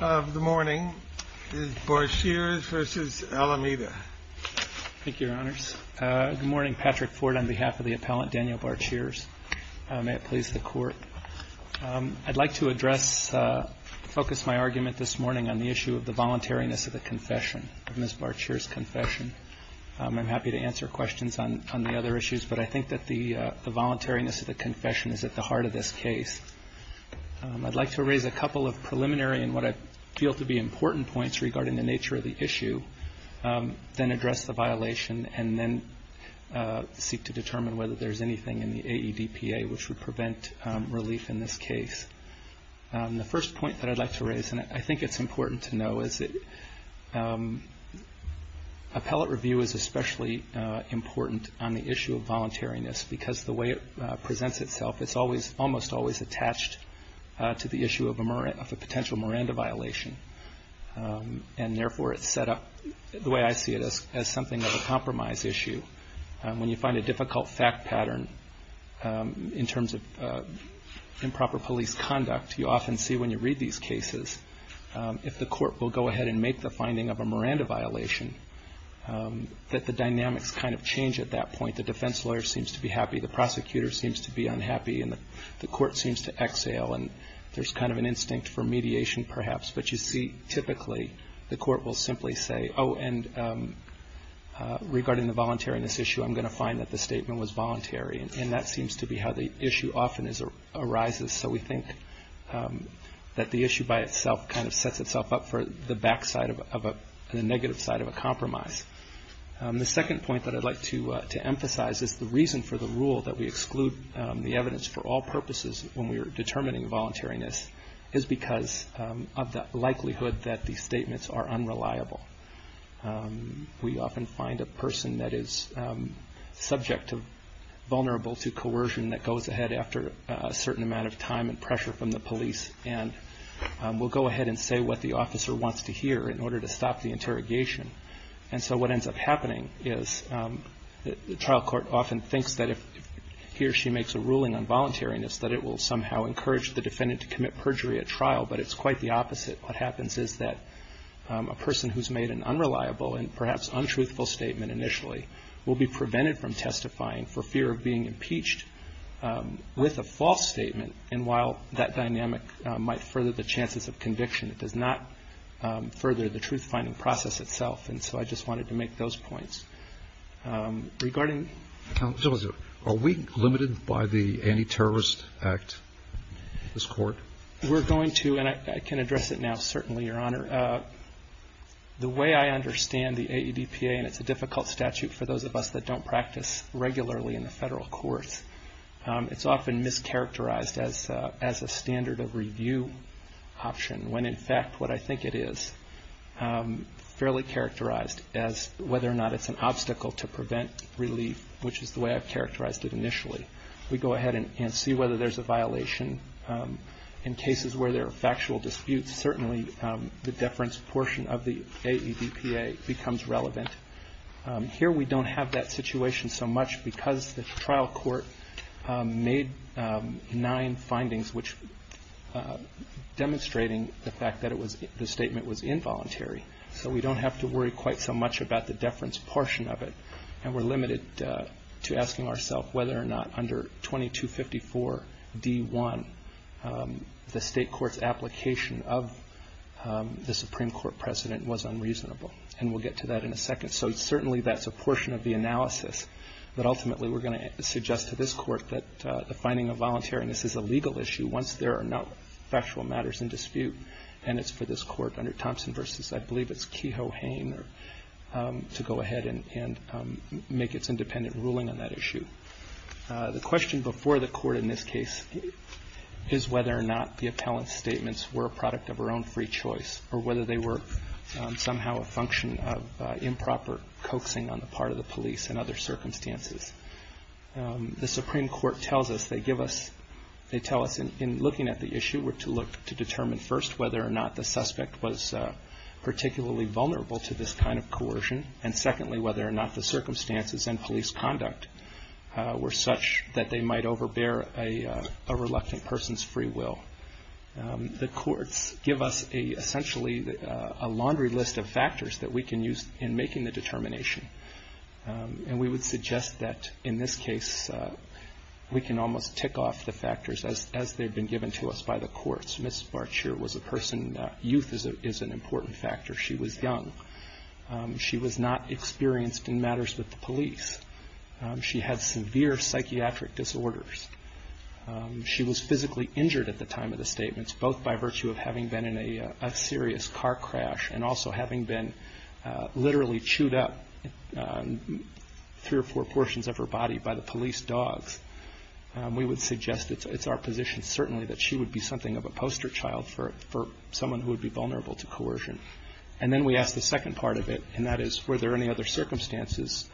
The morning is BARCHEERS v. ALAMEIDA. Thank you, Your Honors. Good morning. Patrick Ford on behalf of the appellant, Daniel Barcheers. May it please the Court. I'd like to address, focus my argument this morning on the issue of the voluntariness of the confession, of Ms. Barcheers' confession. I'm happy to answer questions on the other issues, but I think that the voluntariness of the confession is at the heart of this case. I'd like to raise a couple of preliminary and what I feel to be important points regarding the nature of the issue, then address the violation, and then seek to determine whether there's anything in the AEDPA which would prevent relief in this case. The first point that I'd like to raise, and I think it's important to know, is that appellate review is especially important on the issue of voluntariness because the way it presents itself, it's almost always attached to the issue of a potential Miranda violation, and therefore it's set up, the way I see it, as something of a compromise issue. When you find a difficult fact pattern in terms of improper police conduct, you often see when you read these cases, if the court will go ahead and make the finding of a Miranda violation, that the dynamics kind of change at that point. The defense lawyer seems to be happy, the prosecutor seems to be unhappy, and the court seems to exhale, and there's kind of an instinct for mediation, perhaps. But you see, typically, the court will simply say, oh, and regarding the voluntariness issue, I'm going to find that the statement was voluntary. And that seems to be how the issue often arises. So we think that the issue by itself kind of sets itself up for the back side of a, the negative side of a compromise. The second point that I'd like to emphasize is the reason for the rule that we exclude the evidence for all purposes when we are determining voluntariness is because of the likelihood that these statements are unreliable. We often find a person that is subject to, vulnerable to coercion that goes ahead after a certain amount of time and pressure from the police, and will go ahead and say what the officer wants to hear in order to stop the interrogation. And so what ends up happening is the trial court often thinks that if he or she makes a ruling on voluntariness, that it will somehow encourage the defendant to commit perjury at trial, but it's quite the opposite. What happens is that a person who's made an unreliable and perhaps untruthful statement initially will be prevented from testifying for fear of being impeached with a false statement. And while that dynamic might further the chances of conviction, it does not further the truth-finding process itself. And so I just wanted to make those points. Regarding... Are we limited by the Anti-Terrorist Act, this court? We're going to, and I can address it now certainly, Your Honor. The way I understand the AEDPA, and it's a difficult statute for those of us that don't practice regularly in the federal courts, it's often mischaracterized as a standard of review option, when in fact what I think it is, fairly characterized as whether or not it's an obstacle to prevent relief, which is the way I've characterized it initially. We go ahead and see whether there's a violation. In cases where there are factual disputes, certainly the deference portion of the AEDPA becomes relevant. Here we don't have that situation so much because the trial court made nine findings, demonstrating the fact that the statement was involuntary. So we don't have to worry quite so much about the deference portion of it. And we're limited to asking ourselves whether or not under 2254 D.1, the state court's application of the Supreme Court precedent was unreasonable. And we'll get to that in a second. So certainly that's a portion of the analysis, but ultimately we're going to suggest to this court that the finding of voluntariness is a legal issue once there are no factual matters in dispute. And it's for this court under Thompson v. I believe it's Kehoe-Hane to go ahead and make its independent ruling on that issue. The question before the court in this case is whether or not the appellant's statements were a product of her own free choice or whether they were somehow a function of improper coaxing on the part of the police in other circumstances. The Supreme Court tells us they give us, they tell us in looking at the issue we're to look to determine first whether or not the suspect was particularly vulnerable to this kind of coercion. And secondly, whether or not the circumstances and police conduct were such that they might overbear a reluctant person's free will. The courts give us essentially a laundry list of factors that we can use in making the determination. And we would suggest that in this case we can almost tick off the factors as they've been given to us by the courts. Ms. Barchier was a person, youth is an important factor. She was young. She was not experienced in matters with the police. She had severe psychiatric disorders. She was physically injured at the time of the statements, both by virtue of having been in a serious car crash and also having been literally chewed up three or four portions of her body by the police dogs. We would suggest it's our position certainly that she would be something of a poster child for someone who would be vulnerable to coercion. And then we ask the second part of it, and that is were there any other circumstances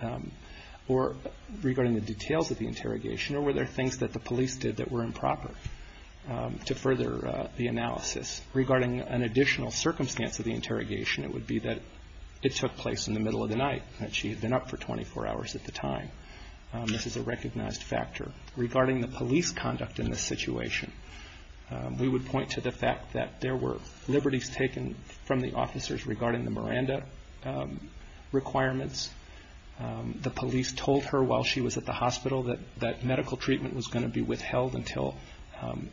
regarding the details of the interrogation or were there things that the police did that were improper to further the analysis. Regarding an additional circumstance of the interrogation, it would be that it took place in the middle of the night and she had been up for 24 hours at the time. This is a recognized factor. Regarding the police conduct in this situation, we would point to the fact that there were liberties taken from the officers regarding the Miranda requirements. The police told her while she was at the hospital that medical treatment was going to be withheld until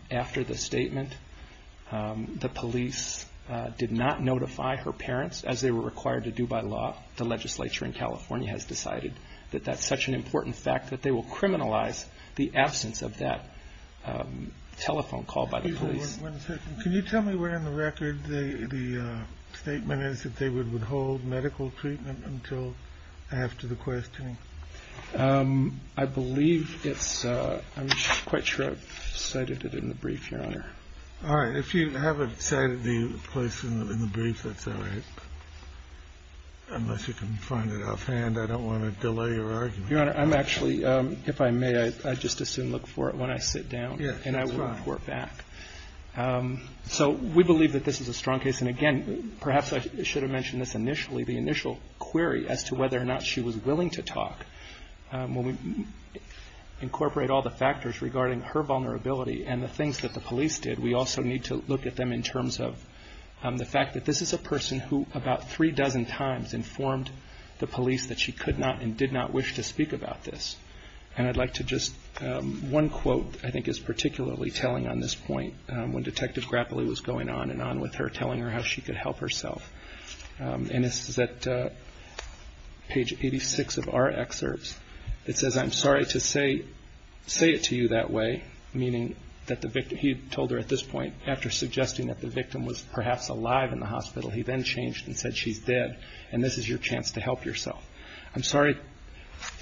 after the statement. The police did not notify her parents, as they were required to do by law. The legislature in California has decided that that's such an important fact that they will criminalize the absence of that telephone call by the police. One second. Can you tell me where in the record the statement is that they would withhold medical treatment until after the questioning? I believe it's, I'm quite sure I've cited it in the brief, Your Honor. All right. If you haven't cited the place in the brief, that's all right, unless you can find it offhand. I don't want to delay your argument. Your Honor, I'm actually, if I may, I'd just as soon look for it when I sit down, and I will report back. So we believe that this is a strong case, and again, perhaps I should have mentioned this initially, the initial query as to whether or not she was willing to talk. When we incorporate all the factors regarding her vulnerability and the things that the police did, we also need to look at them in terms of the fact that this is a person who about three dozen times informed the police that she could not and did not wish to speak about this. And I'd like to just, one quote I think is particularly telling on this point, when Detective Grappoli was going on and on with her, telling her how she could help herself. And this is at page 86 of our excerpts. It says, I'm sorry to say it to you that way, meaning that the victim, he told her at this point, after suggesting that the victim was perhaps alive in the hospital, he then changed and said she's dead, and this is your chance to help yourself. I'm sorry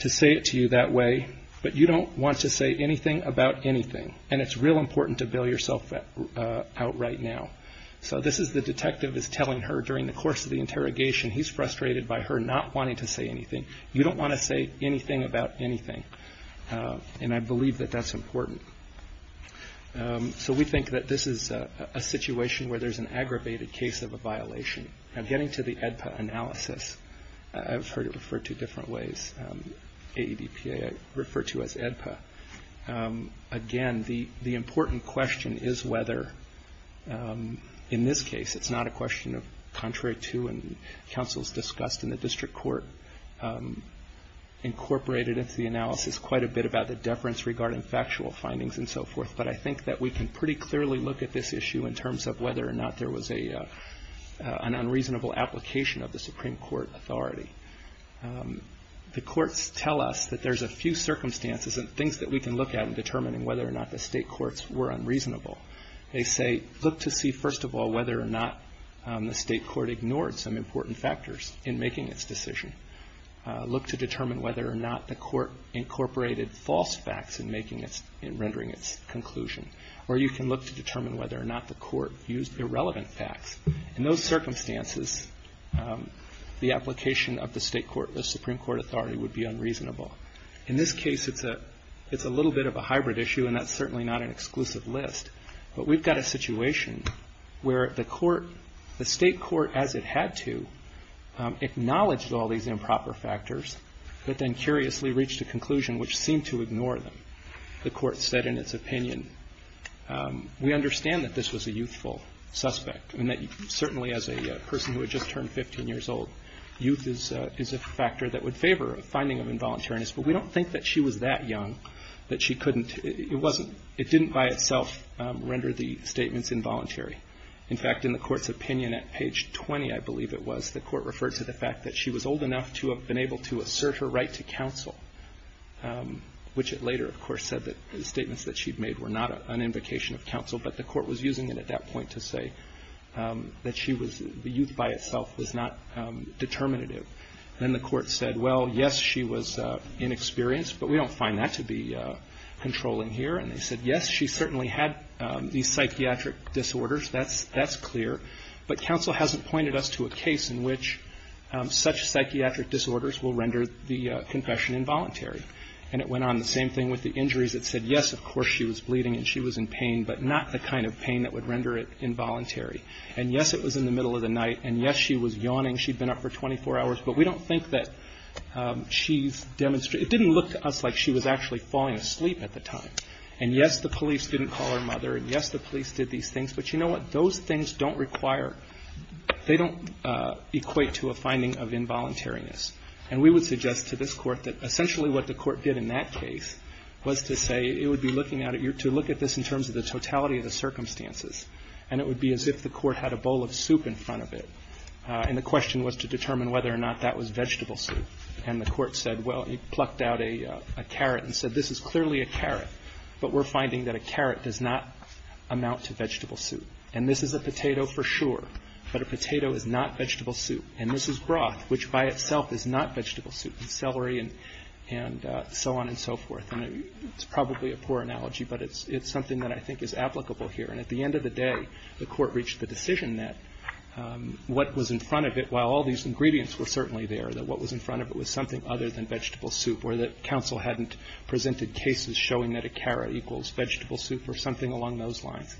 to say it to you that way, but you don't want to say anything about anything, and it's real important to bail yourself out right now. So this is the detective is telling her during the course of the interrogation, he's frustrated by her not wanting to say anything. You don't want to say anything about anything, and I believe that that's important. So we think that this is a situation where there's an aggravated case of a violation. Now getting to the AEDPA analysis, I've heard it referred to different ways. AEDPA I refer to as AEDPA. Again, the important question is whether, in this case, it's not a question of contrary to, and counsels discussed in the district court incorporated into the analysis quite a bit about the deference regarding factual findings and so forth, but I think that we can pretty clearly look at this issue in terms of whether or not there was an unreasonable application of the Supreme Court authority. The courts tell us that there's a few circumstances and things that we can look at in determining whether or not the state courts were unreasonable. They say, look to see, first of all, whether or not the state court ignored some important factors in making its decision. Look to determine whether or not the court incorporated false facts in rendering its conclusion, or you can look to determine whether or not the court used irrelevant facts. In those circumstances, the application of the state court, the Supreme Court authority, would be unreasonable. In this case, it's a little bit of a hybrid issue, and that's certainly not an exclusive list, but we've got a situation where the state court, as it had to, acknowledged all these improper factors, but then curiously reached a conclusion which seemed to ignore them. The court said in its opinion, we understand that this was a youthful suspect, and that certainly as a person who had just turned 15 years old, youth is a factor that would favor a finding of involuntariness, but we don't think that she was that young that she couldn't. It wasn't. It didn't by itself render the statements involuntary. In fact, in the court's opinion at page 20, I believe it was, the court referred to the fact that she was old enough to have been able to assert her right to counsel, which it later, of course, said that the statements that she'd made were not an invocation of counsel, but the court was using it at that point to say that she was, the youth by itself was not determinative. Then the court said, well, yes, she was inexperienced, but we don't find that to be controlling here. And they said, yes, she certainly had these psychiatric disorders, that's clear, but counsel hasn't pointed us to a case in which such psychiatric disorders will render the confession involuntary. And it went on the same thing with the injuries. It said, yes, of course, she was bleeding and she was in pain, but not the kind of pain that would render it involuntary. And, yes, it was in the middle of the night, and, yes, she was yawning, she'd been up for 24 hours, but we don't think that she's demonstrated, it didn't look to us like she was actually falling asleep at the time. And, yes, the police didn't call her mother, and, yes, the police did these things, but you know what, those things don't require, they don't equate to a finding of involuntariness. And we would suggest to this Court that essentially what the Court did in that case was to say it would be looking at it, to look at this in terms of the totality of the circumstances, and it would be as if the Court had a bowl of soup in front of it. And the question was to determine whether or not that was vegetable soup. And the Court said, well, it plucked out a carrot and said, this is clearly a carrot, but we're finding that a carrot does not amount to vegetable soup. And this is a potato for sure, but a potato is not vegetable soup. And this is broth, which by itself is not vegetable soup, and celery and so on and so forth. And it's probably a poor analogy, but it's something that I think is applicable here. And at the end of the day, the Court reached the decision that what was in front of it, while all these ingredients were certainly there, that what was in front of it was something other than vegetable soup, or that counsel hadn't presented cases showing that a carrot equals vegetable soup or something along those lines.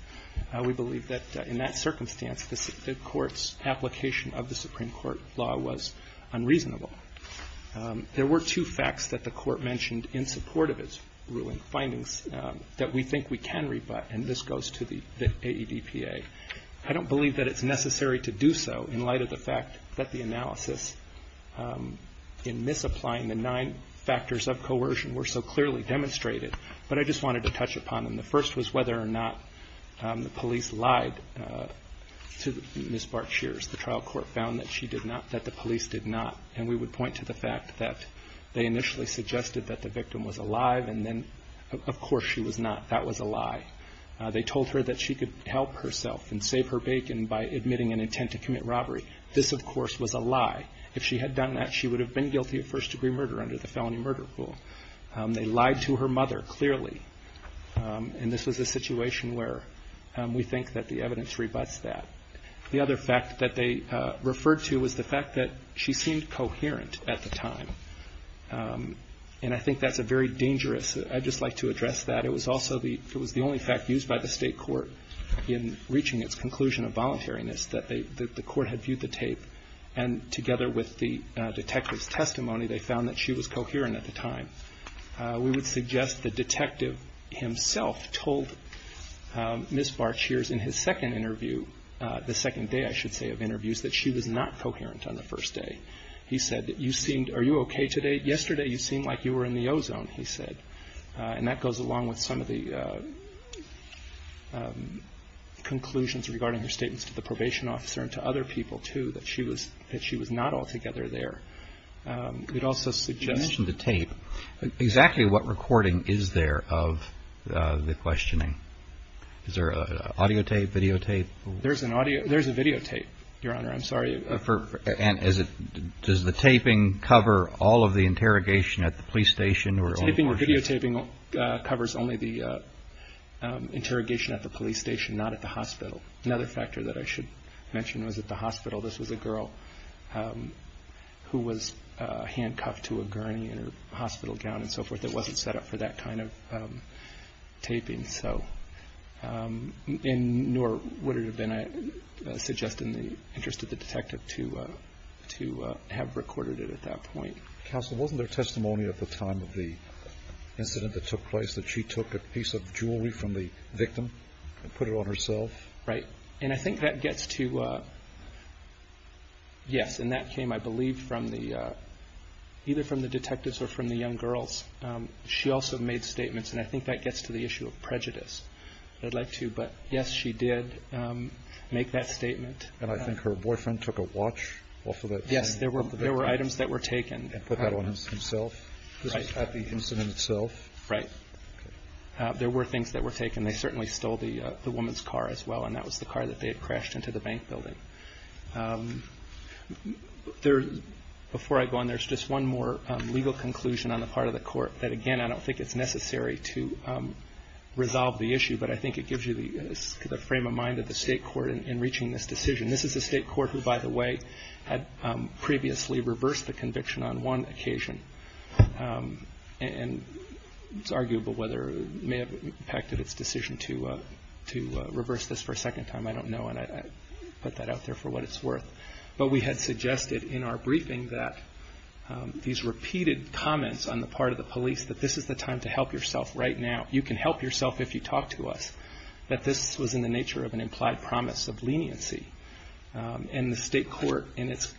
We believe that in that circumstance, the Court's application of the Supreme Court law was unreasonable. There were two facts that the Court mentioned in support of its ruling findings that we think we can rebut, and this goes to the AEDPA. I don't believe that it's necessary to do so in light of the fact that the analysis in misapplying the nine factors of coercion were so clearly demonstrated. But I just wanted to touch upon them. The first was whether or not the police lied to Ms. Barchier's. The trial court found that she did not, that the police did not. And we would point to the fact that they initially suggested that the victim was alive, and then of course she was not. That was a lie. They told her that she could help herself and save her bacon by admitting an intent to commit robbery. This, of course, was a lie. If she had done that, she would have been guilty of first-degree murder under the felony murder rule. They lied to her mother, clearly. And this was a situation where we think that the evidence rebuts that. The other fact that they referred to was the fact that she seemed coherent at the time. And I think that's a very dangerous – I'd just like to address that. It was also the – it was the only fact used by the State Court in reaching its conclusion of voluntariness that they – that the court had viewed the tape, and together with the detective's testimony, they found that she was coherent at the time. We would suggest the detective himself told Ms. Barchier's in his second interview – the second day, I should say, of interviews that she was not coherent on the first day. He said that you seemed – are you okay today? Yesterday you seemed like you were in the ozone, he said. And that goes along with some of the conclusions regarding her statements to the probation officer and to other people, too, that she was – that she was not altogether there. We'd also suggest – You mentioned the tape. Exactly what recording is there of the questioning? Is there an audio tape, video tape? There's an audio – there's a video tape, Your Honor. I'm sorry. And is it – does the taping cover all of the interrogation at the police station or – The taping – the videotaping covers only the interrogation at the police station, not at the hospital. Another factor that I should mention was at the hospital. This was a girl who was handcuffed to a gurney and her hospital gown and so forth that wasn't set up for that kind of taping. So – and nor would it have been, I suggest, in the interest of the detective to have recorded it at that point. Counsel, wasn't there testimony at the time of the incident that took place that she took a piece of jewelry from the victim and put it on herself? Right. And I think that gets to – yes, and that came, I believe, from the – either from the detectives or from the young girls. She also made statements, and I think that gets to the issue of prejudice. I'd like to – but yes, she did make that statement. And I think her boyfriend took a watch off of that thing. Yes, there were items that were taken. And put that on himself? Right. At the incident itself? Right. There were things that were taken. They certainly stole the woman's car as well, and that was the car that they had crashed into the bank building. There – before I go on, there's just one more legal conclusion on the part of the court that, again, I don't think it's necessary to resolve the issue, but I think it gives you the frame of mind of the state court in reaching this decision. This is a state court who, by the way, had previously reversed the conviction on one occasion. And it's arguable whether it may have impacted its decision to reverse this for a second time. I don't know. And I put that out there for what it's worth. But we had suggested in our briefing that these repeated comments on the part of the police that this is the time to help yourself right now. You can help yourself if you talk to us. But this was in the nature of an implied promise of leniency. And the state court, in its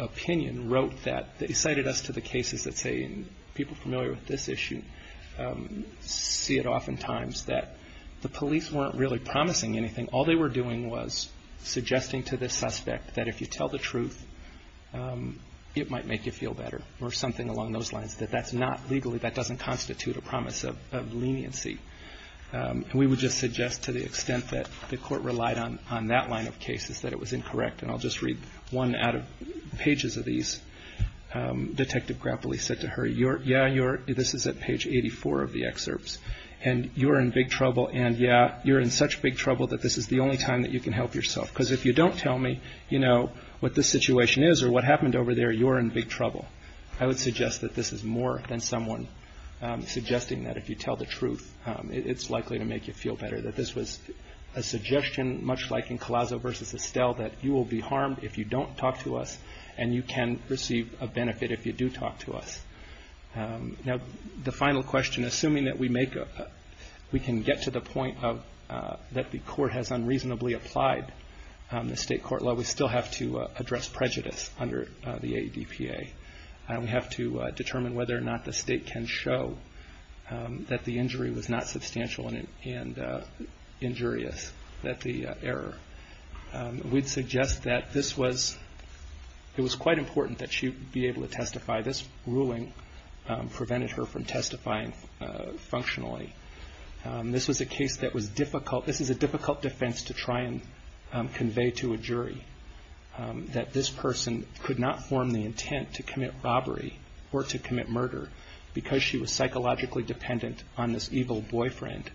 opinion, wrote that – they cited us to the cases that say – and people familiar with this issue see it oftentimes – that the police weren't really promising anything. All they were doing was suggesting to the suspect that if you tell the truth, it might make you feel better or something along those lines, that that's not legally – that doesn't constitute a promise of leniency. And we would just suggest to the extent that the court relied on that line of cases that it was incorrect. And I'll just read one out of pages of these. Detective Grappoli said to her, yeah, you're – this is at page 84 of the excerpts. And you're in big trouble. And yeah, you're in such big trouble that this is the only time that you can help yourself. Because if you don't tell me, you know, what this situation is or what happened over there, you're in big trouble. I would suggest that this is more than someone suggesting that if you tell the truth, it's likely to make you feel better. That this was a suggestion, much like in Collazo v. Estelle, that you will be harmed if you don't talk to us and you can receive a benefit if you do talk to us. Now, the final question, assuming that we make – we can get to the point of – that the court has unreasonably applied the state court law, we still have to address prejudice under the ADPA. We have to determine whether or not the state can show that the injury was not substantial and injurious, that the error. We'd suggest that this was – it was quite important that she be able to testify. This ruling prevented her from testifying functionally. This was a case that was difficult – this is a difficult defense to try and convey to a jury that this person could not form the intent to commit robbery or to commit murder because she was psychologically dependent on this evil boyfriend.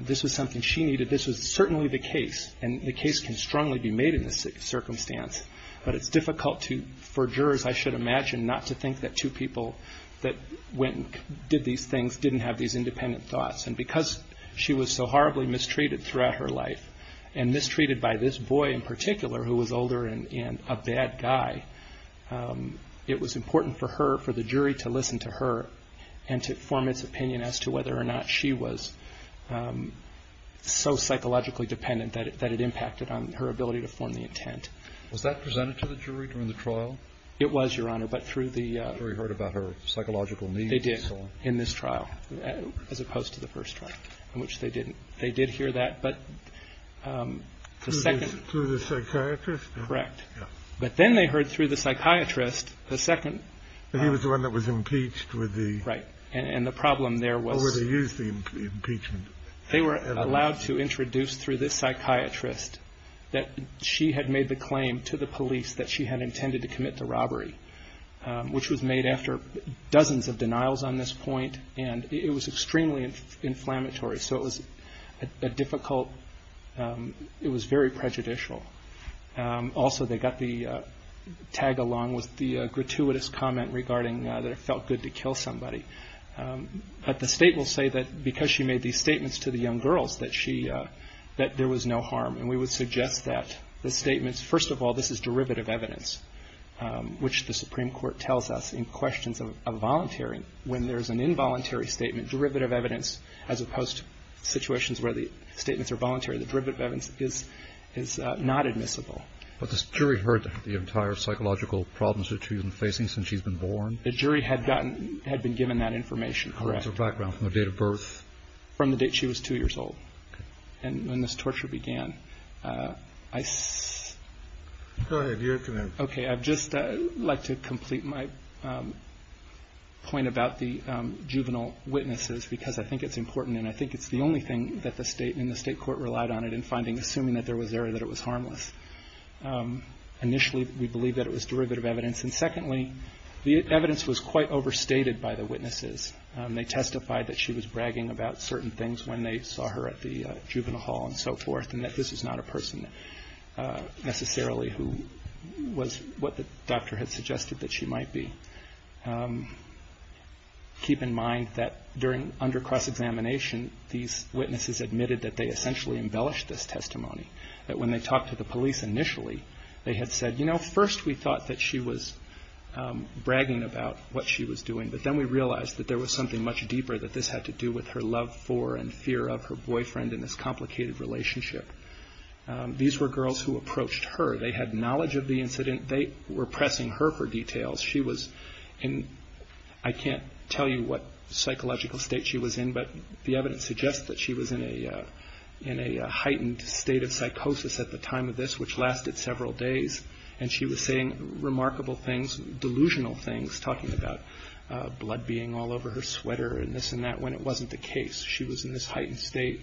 This was something she needed. This was certainly the case, and the case can strongly be made in this circumstance, but it's difficult to – for jurors, I should imagine, not to think that two people that went and did these things didn't have these independent thoughts. And because she was so horribly mistreated throughout her life, and mistreated by this boy in particular who was older and a bad guy, it was important for her – for the jury to listen to her and to form its opinion as to whether or not she was so psychologically dependent that it impacted on her ability to form the intent. Was that presented to the jury during the trial? It was, Your Honor, but through the – The jury heard about her psychological needs and so on. In this trial, as opposed to the first trial, in which they didn't. They did hear that, but the second – Through the psychiatrist? Correct. But then they heard through the psychiatrist, the second – He was the one that was impeached with the – Right. And the problem there was – Or where they used the impeachment. They were allowed to introduce through this psychiatrist that she had made the claim to the police that she had intended to commit the robbery, which was made after dozens of denials on this point, and it was extremely inflammatory. So it was a difficult – it was very prejudicial. Also, they got the tag along with the gratuitous comment regarding that it felt good to kill somebody. But the State will say that because she made these statements to the young girls that she – that there was no harm. And we would suggest that the statements – first of all, this is derivative evidence, which the Supreme Court tells us in questions of voluntary. When there's an involuntary statement, derivative evidence, as opposed to situations where the statements are voluntary, the derivative evidence is not admissible. But the jury heard the entire psychological problems that she's been facing since she's been born? The jury had gotten – had been given that information. Correct. What was her background from the date of birth? From the date she was two years old. Okay. And when this torture began, I – Go ahead. Okay. I'd just like to complete my point about the juvenile witnesses, because I think it's important, and I think it's the only thing that the State and the State court relied on it in finding – assuming that there was error, that it was harmless. Initially, we believed that it was derivative evidence. And secondly, the evidence was quite overstated by the witnesses. They testified that she was bragging about certain things when they saw her at the juvenile hall and so forth, and that this was not a person necessarily who was what the doctor had suggested that she might be. Keep in mind that during – under cross-examination, these witnesses admitted that they essentially embellished this testimony, that when they talked to the police initially, they had said, you know, first we thought that she was bragging about what she was doing, but then we realized that there was something much deeper that this had to do with her love for and fear of her boyfriend in this complicated relationship. These were girls who approached her. They had knowledge of the incident. They were pressing her for details. She was in – I can't tell you what psychological state she was in, but the evidence suggests that she was in a heightened state of psychosis at the time of this, which lasted several days, and she was saying remarkable things, delusional things, talking about blood being all over her sweater and this and that, when it wasn't the case. She was in this heightened state.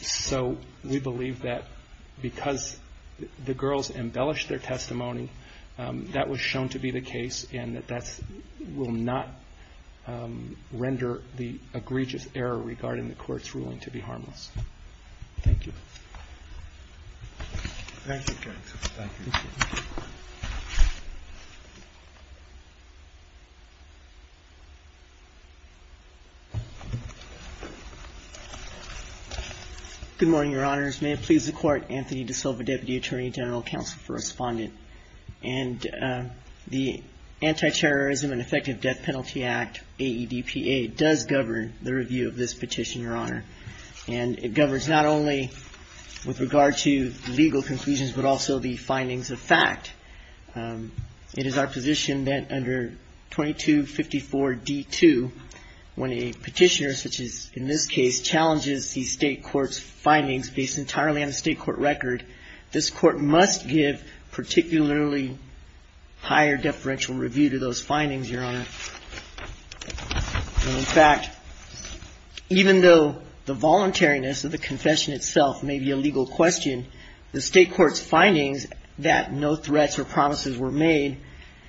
So we believe that because the girls embellished their testimony, that was shown to be the case and that that's – will not render the egregious error regarding the court's ruling to be harmless. Thank you. Thank you, counsel. Thank you. Good morning, Your Honors. May it please the Court, Anthony DaSilva, Deputy Attorney General Counsel for Respondent. And the Anti-Terrorism and Effective Death Penalty Act, AEDPA, does govern the review of this petition, Your Honor. And it governs not only with regard to legal conclusions, but also the findings of fact. It is our position that under 2254d2, when a petitioner, such as in this case, challenges the State Court's findings based entirely on the State Court record, this Court must give particularly higher deferential review to those findings, Your Honor. In fact, even though the voluntariness of the confession itself may be a legal question, the State Court's findings that no threats or promises were made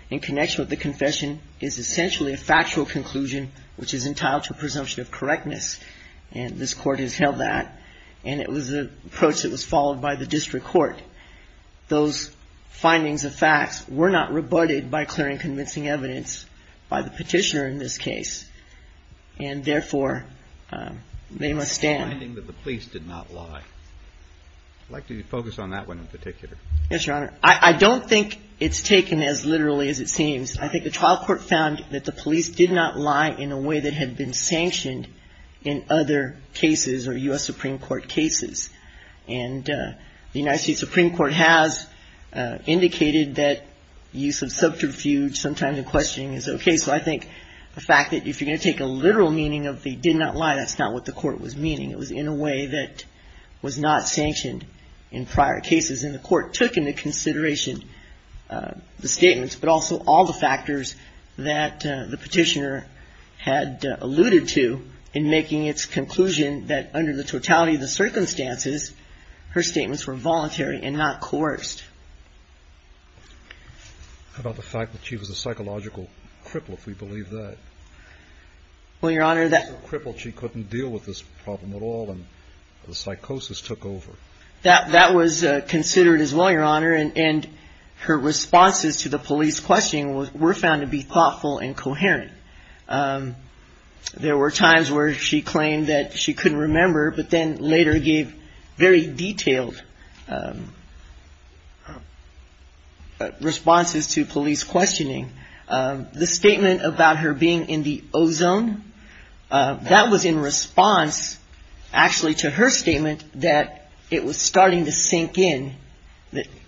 in connection with the confession is essentially a factual conclusion which is entitled to presumption of correctness. And this Court has held that. And it was an approach that was followed by the district court. Those findings of facts were not rebutted by clearing convincing evidence by the petitioner in this case. And therefore, they must stand. It's the finding that the police did not lie. I'd like you to focus on that one in particular. Yes, Your Honor. I don't think it's taken as literally as it seems. I think the trial court found that the police did not lie in a way that had been sanctioned in other cases or U.S. Supreme Court cases. And the United States Supreme Court has indicated that use of subterfuge sometimes in questioning is okay. So I think the fact that if you're going to take a literal meaning of they did not lie, that's not what the court was meaning. It was in a way that was not sanctioned in prior cases. And the court took into consideration the statements but also all the factors that the petitioner had alluded to in making its conclusion that under the totality of the circumstances, her statements were voluntary and not coerced. How about the fact that she was a psychological cripple, if we believe that? Well, Your Honor, that. A cripple, she couldn't deal with this problem at all and the psychosis took over. That was considered as well, Your Honor. And her responses to the police questioning were found to be thoughtful and coherent. There were times where she claimed that she couldn't remember, but then later gave very detailed responses to police questioning. The statement about her being in the ozone, that was in response actually to her statement that it was starting to sink in.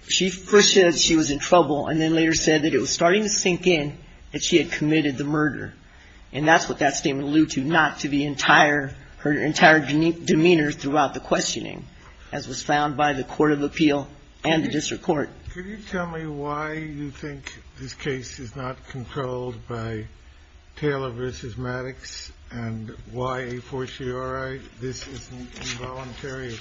She first said she was in trouble and then later said that it was starting to sink in that she had committed murder. And that's what that statement alluded to, not to the entire, her entire demeanor throughout the questioning, as was found by the court of appeal and the district court. Can you tell me why you think this case is not controlled by Taylor v. Maddox and why a fortiori this is involuntary?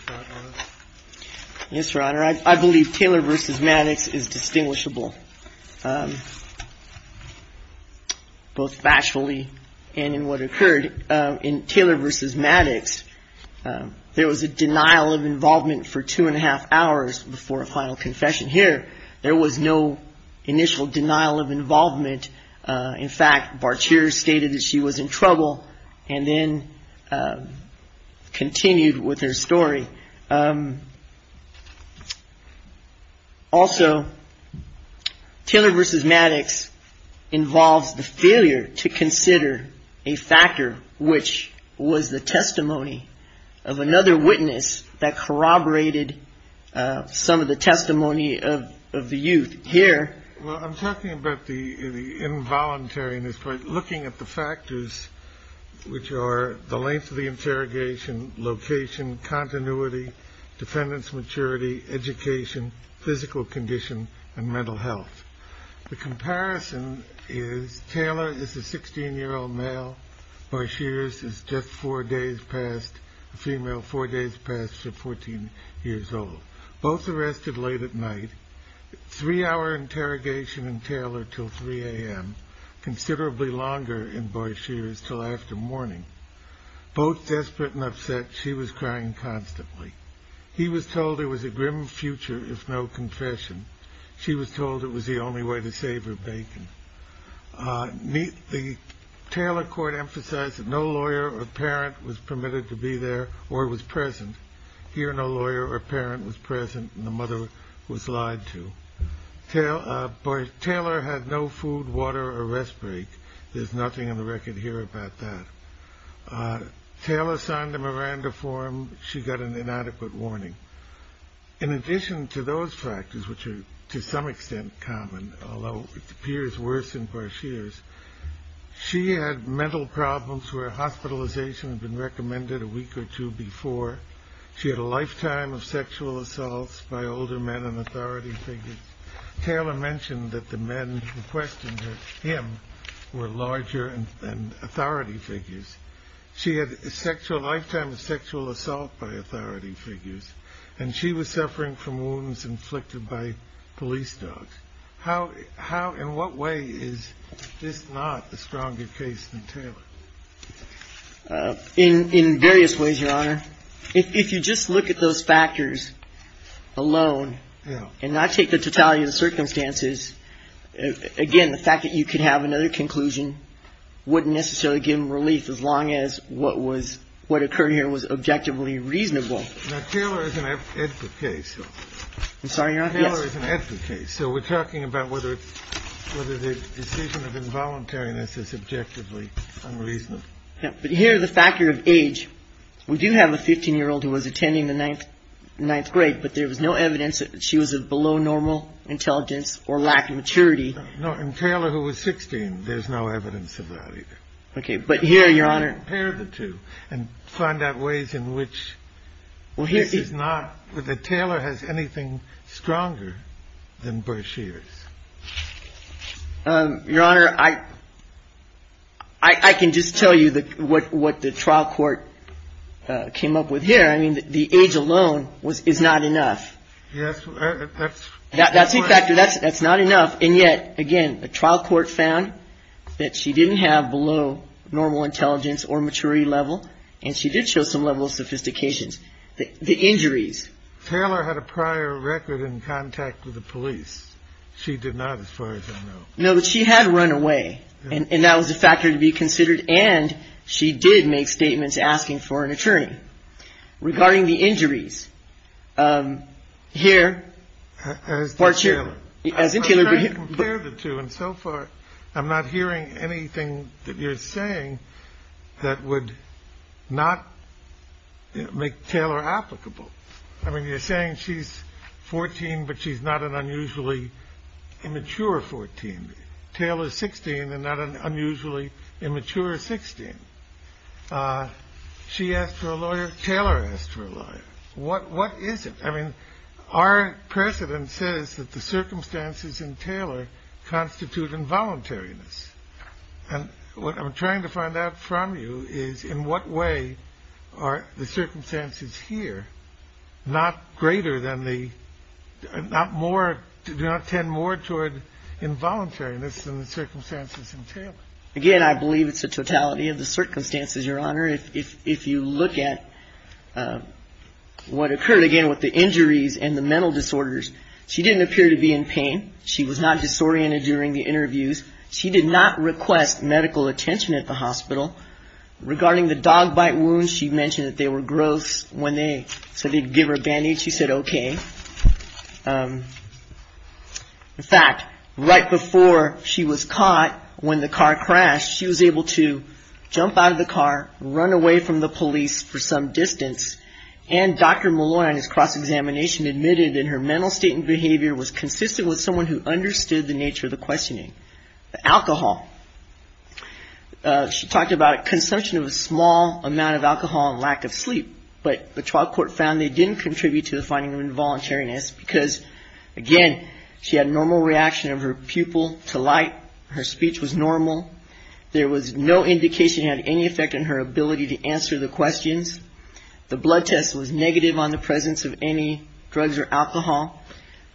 Yes, Your Honor. I believe Taylor v. Maddox is distinguishable. Both factually and in what occurred in Taylor v. Maddox, there was a denial of involvement for two and a half hours before a final confession here. There was no initial denial of involvement. In fact, Barchier stated that she was in trouble and then continued with her story. Also, Taylor v. Maddox involves the failure to consider a factor which was the testimony of another witness that corroborated some of the testimony of the youth here. Well, I'm talking about the involuntary in this, but looking at the factors which are the length of the interrogation, location, continuity, defendant's maturity, education, physical condition, and mental health. The comparison is Taylor is a 16-year-old male. Barchier's is just four days past the female, four days past her 14 years old. Both arrested late at night, three-hour interrogation in Taylor until 3 a.m., considerably longer in Barchier's until after morning. Both desperate and upset, she was crying constantly. He was told it was a grim future if no confession. She was told it was the only way to save her bacon. The Taylor court emphasized that no lawyer or parent was permitted to be there or was present. Here, no lawyer or parent was present and the mother was lied to. Taylor had no food, water, or rest break. There's nothing on the record here about that. Taylor signed a Miranda form. She got an inadequate warning. In addition to those factors, which are to some extent common, although it appears worse in Barchier's, she had mental problems where hospitalization had been recommended a week or two before. She had a lifetime of sexual assaults by older men and authority figures. Taylor mentioned that the men who questioned her, him, were larger and authority figures. She had a sexual lifetime of sexual assault by authority figures, and she was suffering from wounds inflicted by police dogs. How, in what way is this not a stronger case than Taylor? In various ways, Your Honor. If you just look at those factors alone and not take the totality of the circumstances, again, the fact that you could have another conclusion wouldn't necessarily give them relief as long as what was – what occurred here was objectively reasonable. Now, Taylor is an advocate. I'm sorry, Your Honor? Taylor is an advocate. Okay. So we're talking about whether the decision of involuntariness is objectively unreasonable. But here the factor of age. We do have a 15-year-old who was attending the ninth grade, but there was no evidence that she was of below normal intelligence or lack of maturity. No. In Taylor, who was 16, there's no evidence of that either. Okay. But here, Your Honor – Your Honor, I can just tell you what the trial court came up with here. I mean, the age alone is not enough. Yes. That's – That's a factor. That's not enough. And yet, again, the trial court found that she didn't have below normal intelligence or maturity level, and she did show some level of sophistication. The injuries – Taylor had a prior record in contact with the police. She did not, as far as I know. No, but she had run away, and that was a factor to be considered. And she did make statements asking for an attorney. Regarding the injuries, here – As did Taylor. As did Taylor. I'm trying to compare the two, and so far I'm not hearing anything that you're saying that would not make Taylor applicable. I mean, you're saying she's 14, but she's not an unusually immature 14. Taylor's 16 and not an unusually immature 16. She asked for a lawyer. Taylor asked for a lawyer. What is it? I mean, our precedent says that the circumstances in Taylor constitute involuntariness. And what I'm trying to find out from you is in what way are the circumstances here not greater than the – not more – do not tend more toward involuntariness than the circumstances in Taylor. Again, I believe it's a totality of the circumstances, Your Honor. If you look at what occurred, again, with the injuries and the mental disorders, she didn't appear to be in pain. She was not disoriented during the interviews. She did not request medical attention at the hospital. Regarding the dog bite wounds, she mentioned that they were gross. When they said they'd give her a band-aid, she said okay. In fact, right before she was caught when the car crashed, she was able to jump out of the car, run away from the police for some distance. And Dr. Maloney, on his cross-examination, admitted in her mental state and behavior, was consistent with someone who understood the nature of the questioning. Alcohol. She talked about consumption of a small amount of alcohol and lack of sleep. But the trial court found they didn't contribute to the finding of involuntariness because, again, she had a normal reaction of her pupil to light. Her speech was normal. There was no indication it had any effect on her ability to answer the questions. The blood test was negative on the presence of any drugs or alcohol.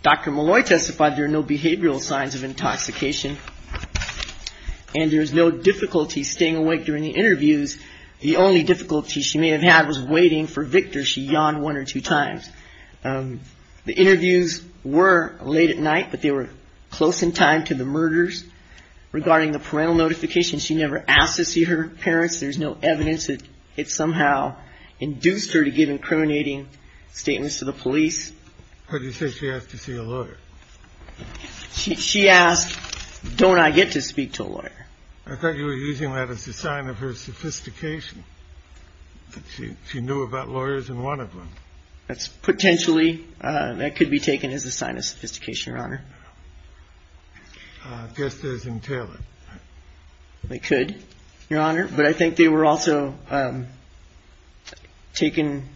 Dr. Maloney testified there were no behavioral signs of intoxication. And there was no difficulty staying awake during the interviews. The only difficulty she may have had was waiting for Victor. She yawned one or two times. The interviews were late at night, but they were close in time to the murders. Regarding the parental notification, she never asked to see her parents. There's no evidence that it somehow induced her to give incriminating statements to the police. She asked, don't I get to speak to a lawyer? I thought you were using that as a sign of her sophistication. She knew about lawyers in one of them. That's potentially that could be taken as a sign of sophistication, Your Honor. Just as in Taylor. They could, Your Honor. But I think they were also taken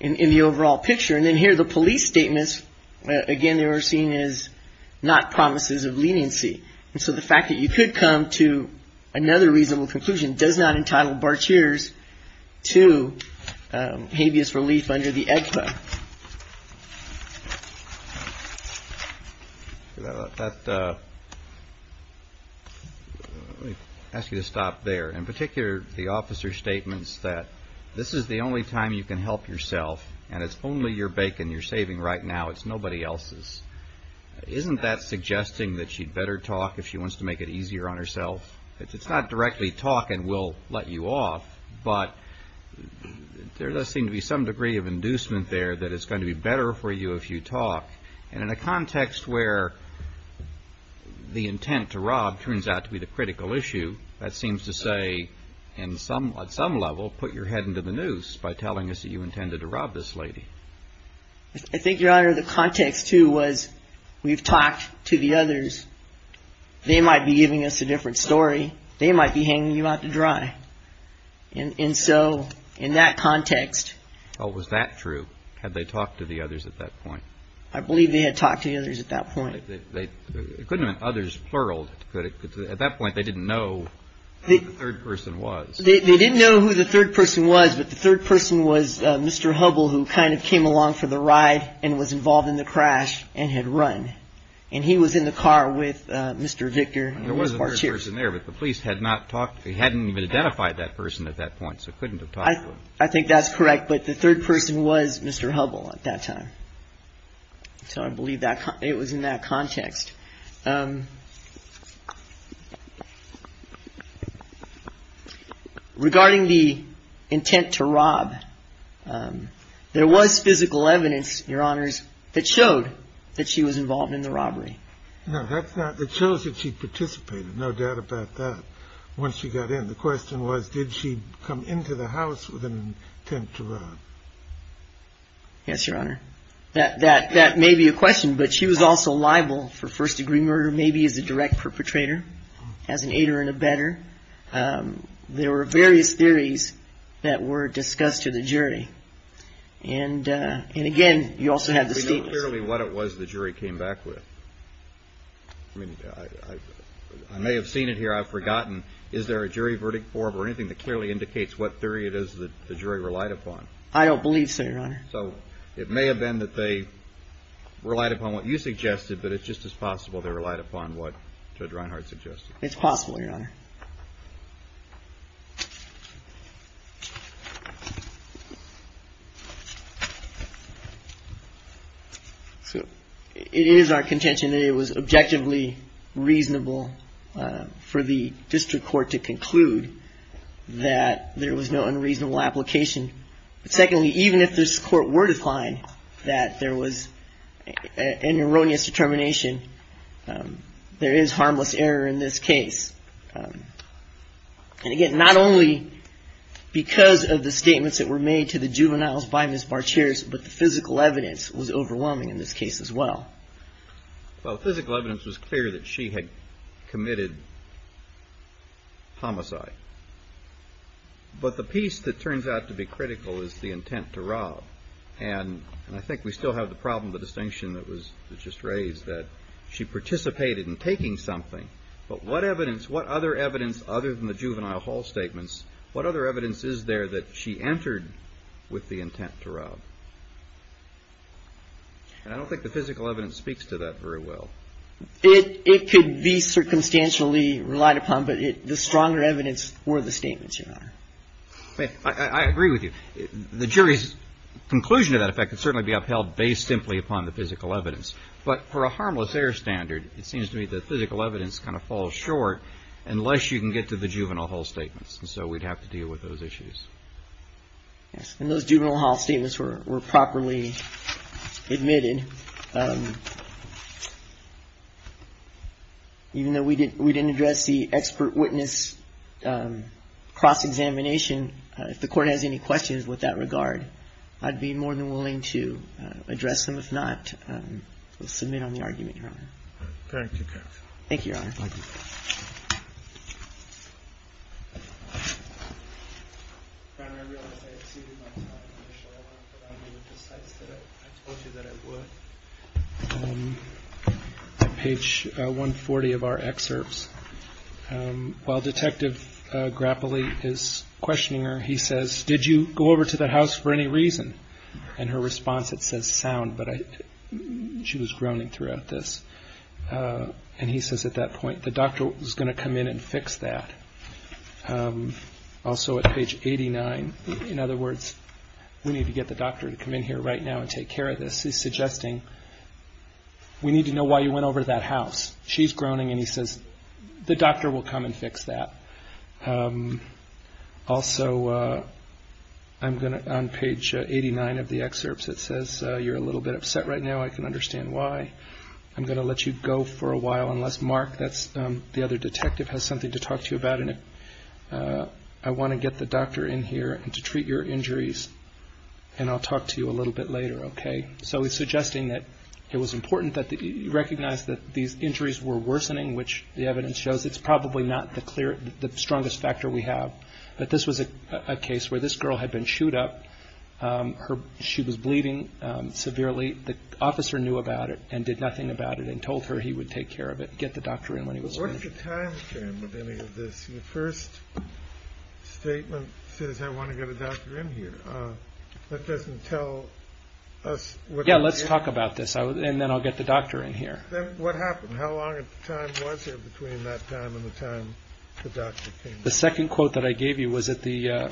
in the overall picture. And then here the police statements. Again, they were seen as not promises of leniency. And so the fact that you could come to another reasonable conclusion does not entitle Barteers to habeas relief under the EDPA. Let me ask you to stop there. In particular, the officer's statements that this is the only time you can help yourself and it's only your bacon you're saving right now. It's nobody else's. Isn't that suggesting that she'd better talk if she wants to make it easier on herself? It's not directly talk and we'll let you off. But there does seem to be some degree of inducement there that it's going to be better for you if you talk. And in a context where the intent to rob turns out to be the critical issue, that seems to say in some at some level, put your head into the noose by telling us that you intended to rob this lady. I think, Your Honor, the context, too, was we've talked to the others. They might be giving us a different story. They might be hanging you out to dry. And so in that context. Was that true? Had they talked to the others at that point? I believe they had talked to the others at that point. It couldn't have been others, plural. At that point, they didn't know the third person was. They didn't know who the third person was. But the third person was Mr. Hubble, who kind of came along for the ride and was involved in the crash and had run. And he was in the car with Mr. Victor. There was a person there, but the police had not talked. He hadn't even identified that person at that point. So couldn't I think that's correct. But the third person was Mr. Hubble at that time. So I believe that it was in that context. Regarding the intent to rob, there was physical evidence, Your Honors, that showed that she was involved in the robbery. No, that's not that shows that she participated. No doubt about that. When she got in, the question was, did she come into the house with an intent to rob? Yes, Your Honor. That that that may be a question. But she was also liable for first degree murder. First degree murder maybe is a direct perpetrator as an aider and a better. There were various theories that were discussed to the jury. And and again, you also have to clearly what it was the jury came back with. I mean, I may have seen it here. I've forgotten. Is there a jury verdict for anything that clearly indicates what theory it is that the jury relied upon? I don't believe so. So it may have been that they relied upon what you suggested, but it's just as possible they relied upon what Drinehart suggested. It's possible, Your Honor. It is our contention that it was objectively reasonable for the district court to conclude that there was no unreasonable application. Secondly, even if this court were to find that there was an erroneous determination, there is harmless error in this case. And again, not only because of the statements that were made to the juveniles by Ms. Barcher's, but the physical evidence was overwhelming in this case as well. Well, physical evidence was clear that she had committed homicide. But the piece that turns out to be critical is the intent to rob. And I think we still have the problem, the distinction that was just raised that she participated in taking something. But what evidence what other evidence other than the juvenile hall statements? What other evidence is there that she entered with the intent to rob? And I don't think the physical evidence speaks to that very well. It could be circumstantially relied upon, but the stronger evidence were the statements, Your Honor. I agree with you. The jury's conclusion to that effect would certainly be upheld based simply upon the physical evidence. But for a harmless error standard, it seems to me the physical evidence kind of falls short unless you can get to the juvenile hall statements. And so we'd have to deal with those issues. Yes. And those juvenile hall statements were properly admitted. Even though we did we didn't address the expert witness cross examination. If the court has any questions with that regard, I'd be more than willing to address them. If not, we'll submit on the argument. Thank you. Thank you. Page 140 of our excerpts. While Detective Grappoli is questioning her, he says, did you go over to the house for any reason? And her response, it says sound, but she was groaning throughout this. And he says at that point, the doctor was going to come in and fix that. Also at page 89. In other words, we need to get the doctor to come in here right now and take care of this. He's suggesting we need to know why you went over to that house. She's groaning and he says the doctor will come and fix that. Also, I'm going to on page 89 of the excerpts, it says you're a little bit upset right now. I can understand why I'm going to let you go for a while unless Mark. That's the other detective has something to talk to you about. And I want to get the doctor in here and to treat your injuries. And I'll talk to you a little bit later. OK. So he's suggesting that it was important that you recognize that these injuries were worsening, which the evidence shows it's probably not the clear the strongest factor we have. But this was a case where this girl had been chewed up. Her. She was bleeding severely. The officer knew about it and did nothing about it and told her he would take care of it. Get the doctor in when he was. First statement says I want to get a doctor in here. That doesn't tell us what. Yeah, let's talk about this. And then I'll get the doctor in here. What happened? How long was it between that time and the time? The second quote that I gave you was that the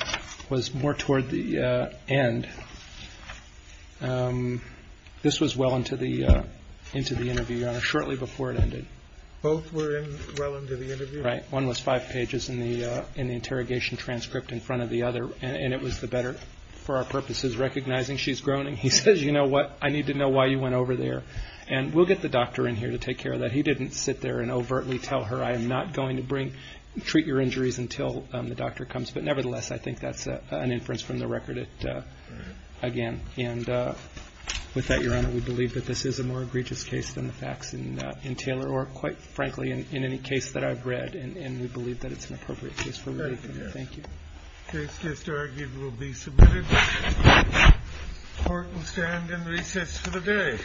was more toward the end. This was well into the into the interview shortly before it ended. Both were well into the interview. Right. One was five pages in the interrogation transcript in front of the other. And it was the better for our purposes. Recognizing she's groaning. He says, you know what, I need to know why you went over there and we'll get the doctor in here to take care of that. He didn't sit there and overtly tell her I am not going to bring treat your injuries until the doctor comes. But nevertheless, I think that's an inference from the record. Again. And with that, your honor, we believe that this is a more egregious case than the facts in Taylor or quite frankly, in any case that I've read. And we believe that it's an appropriate case for. Thank you. This case will be submitted. Court will stand in recess for the day.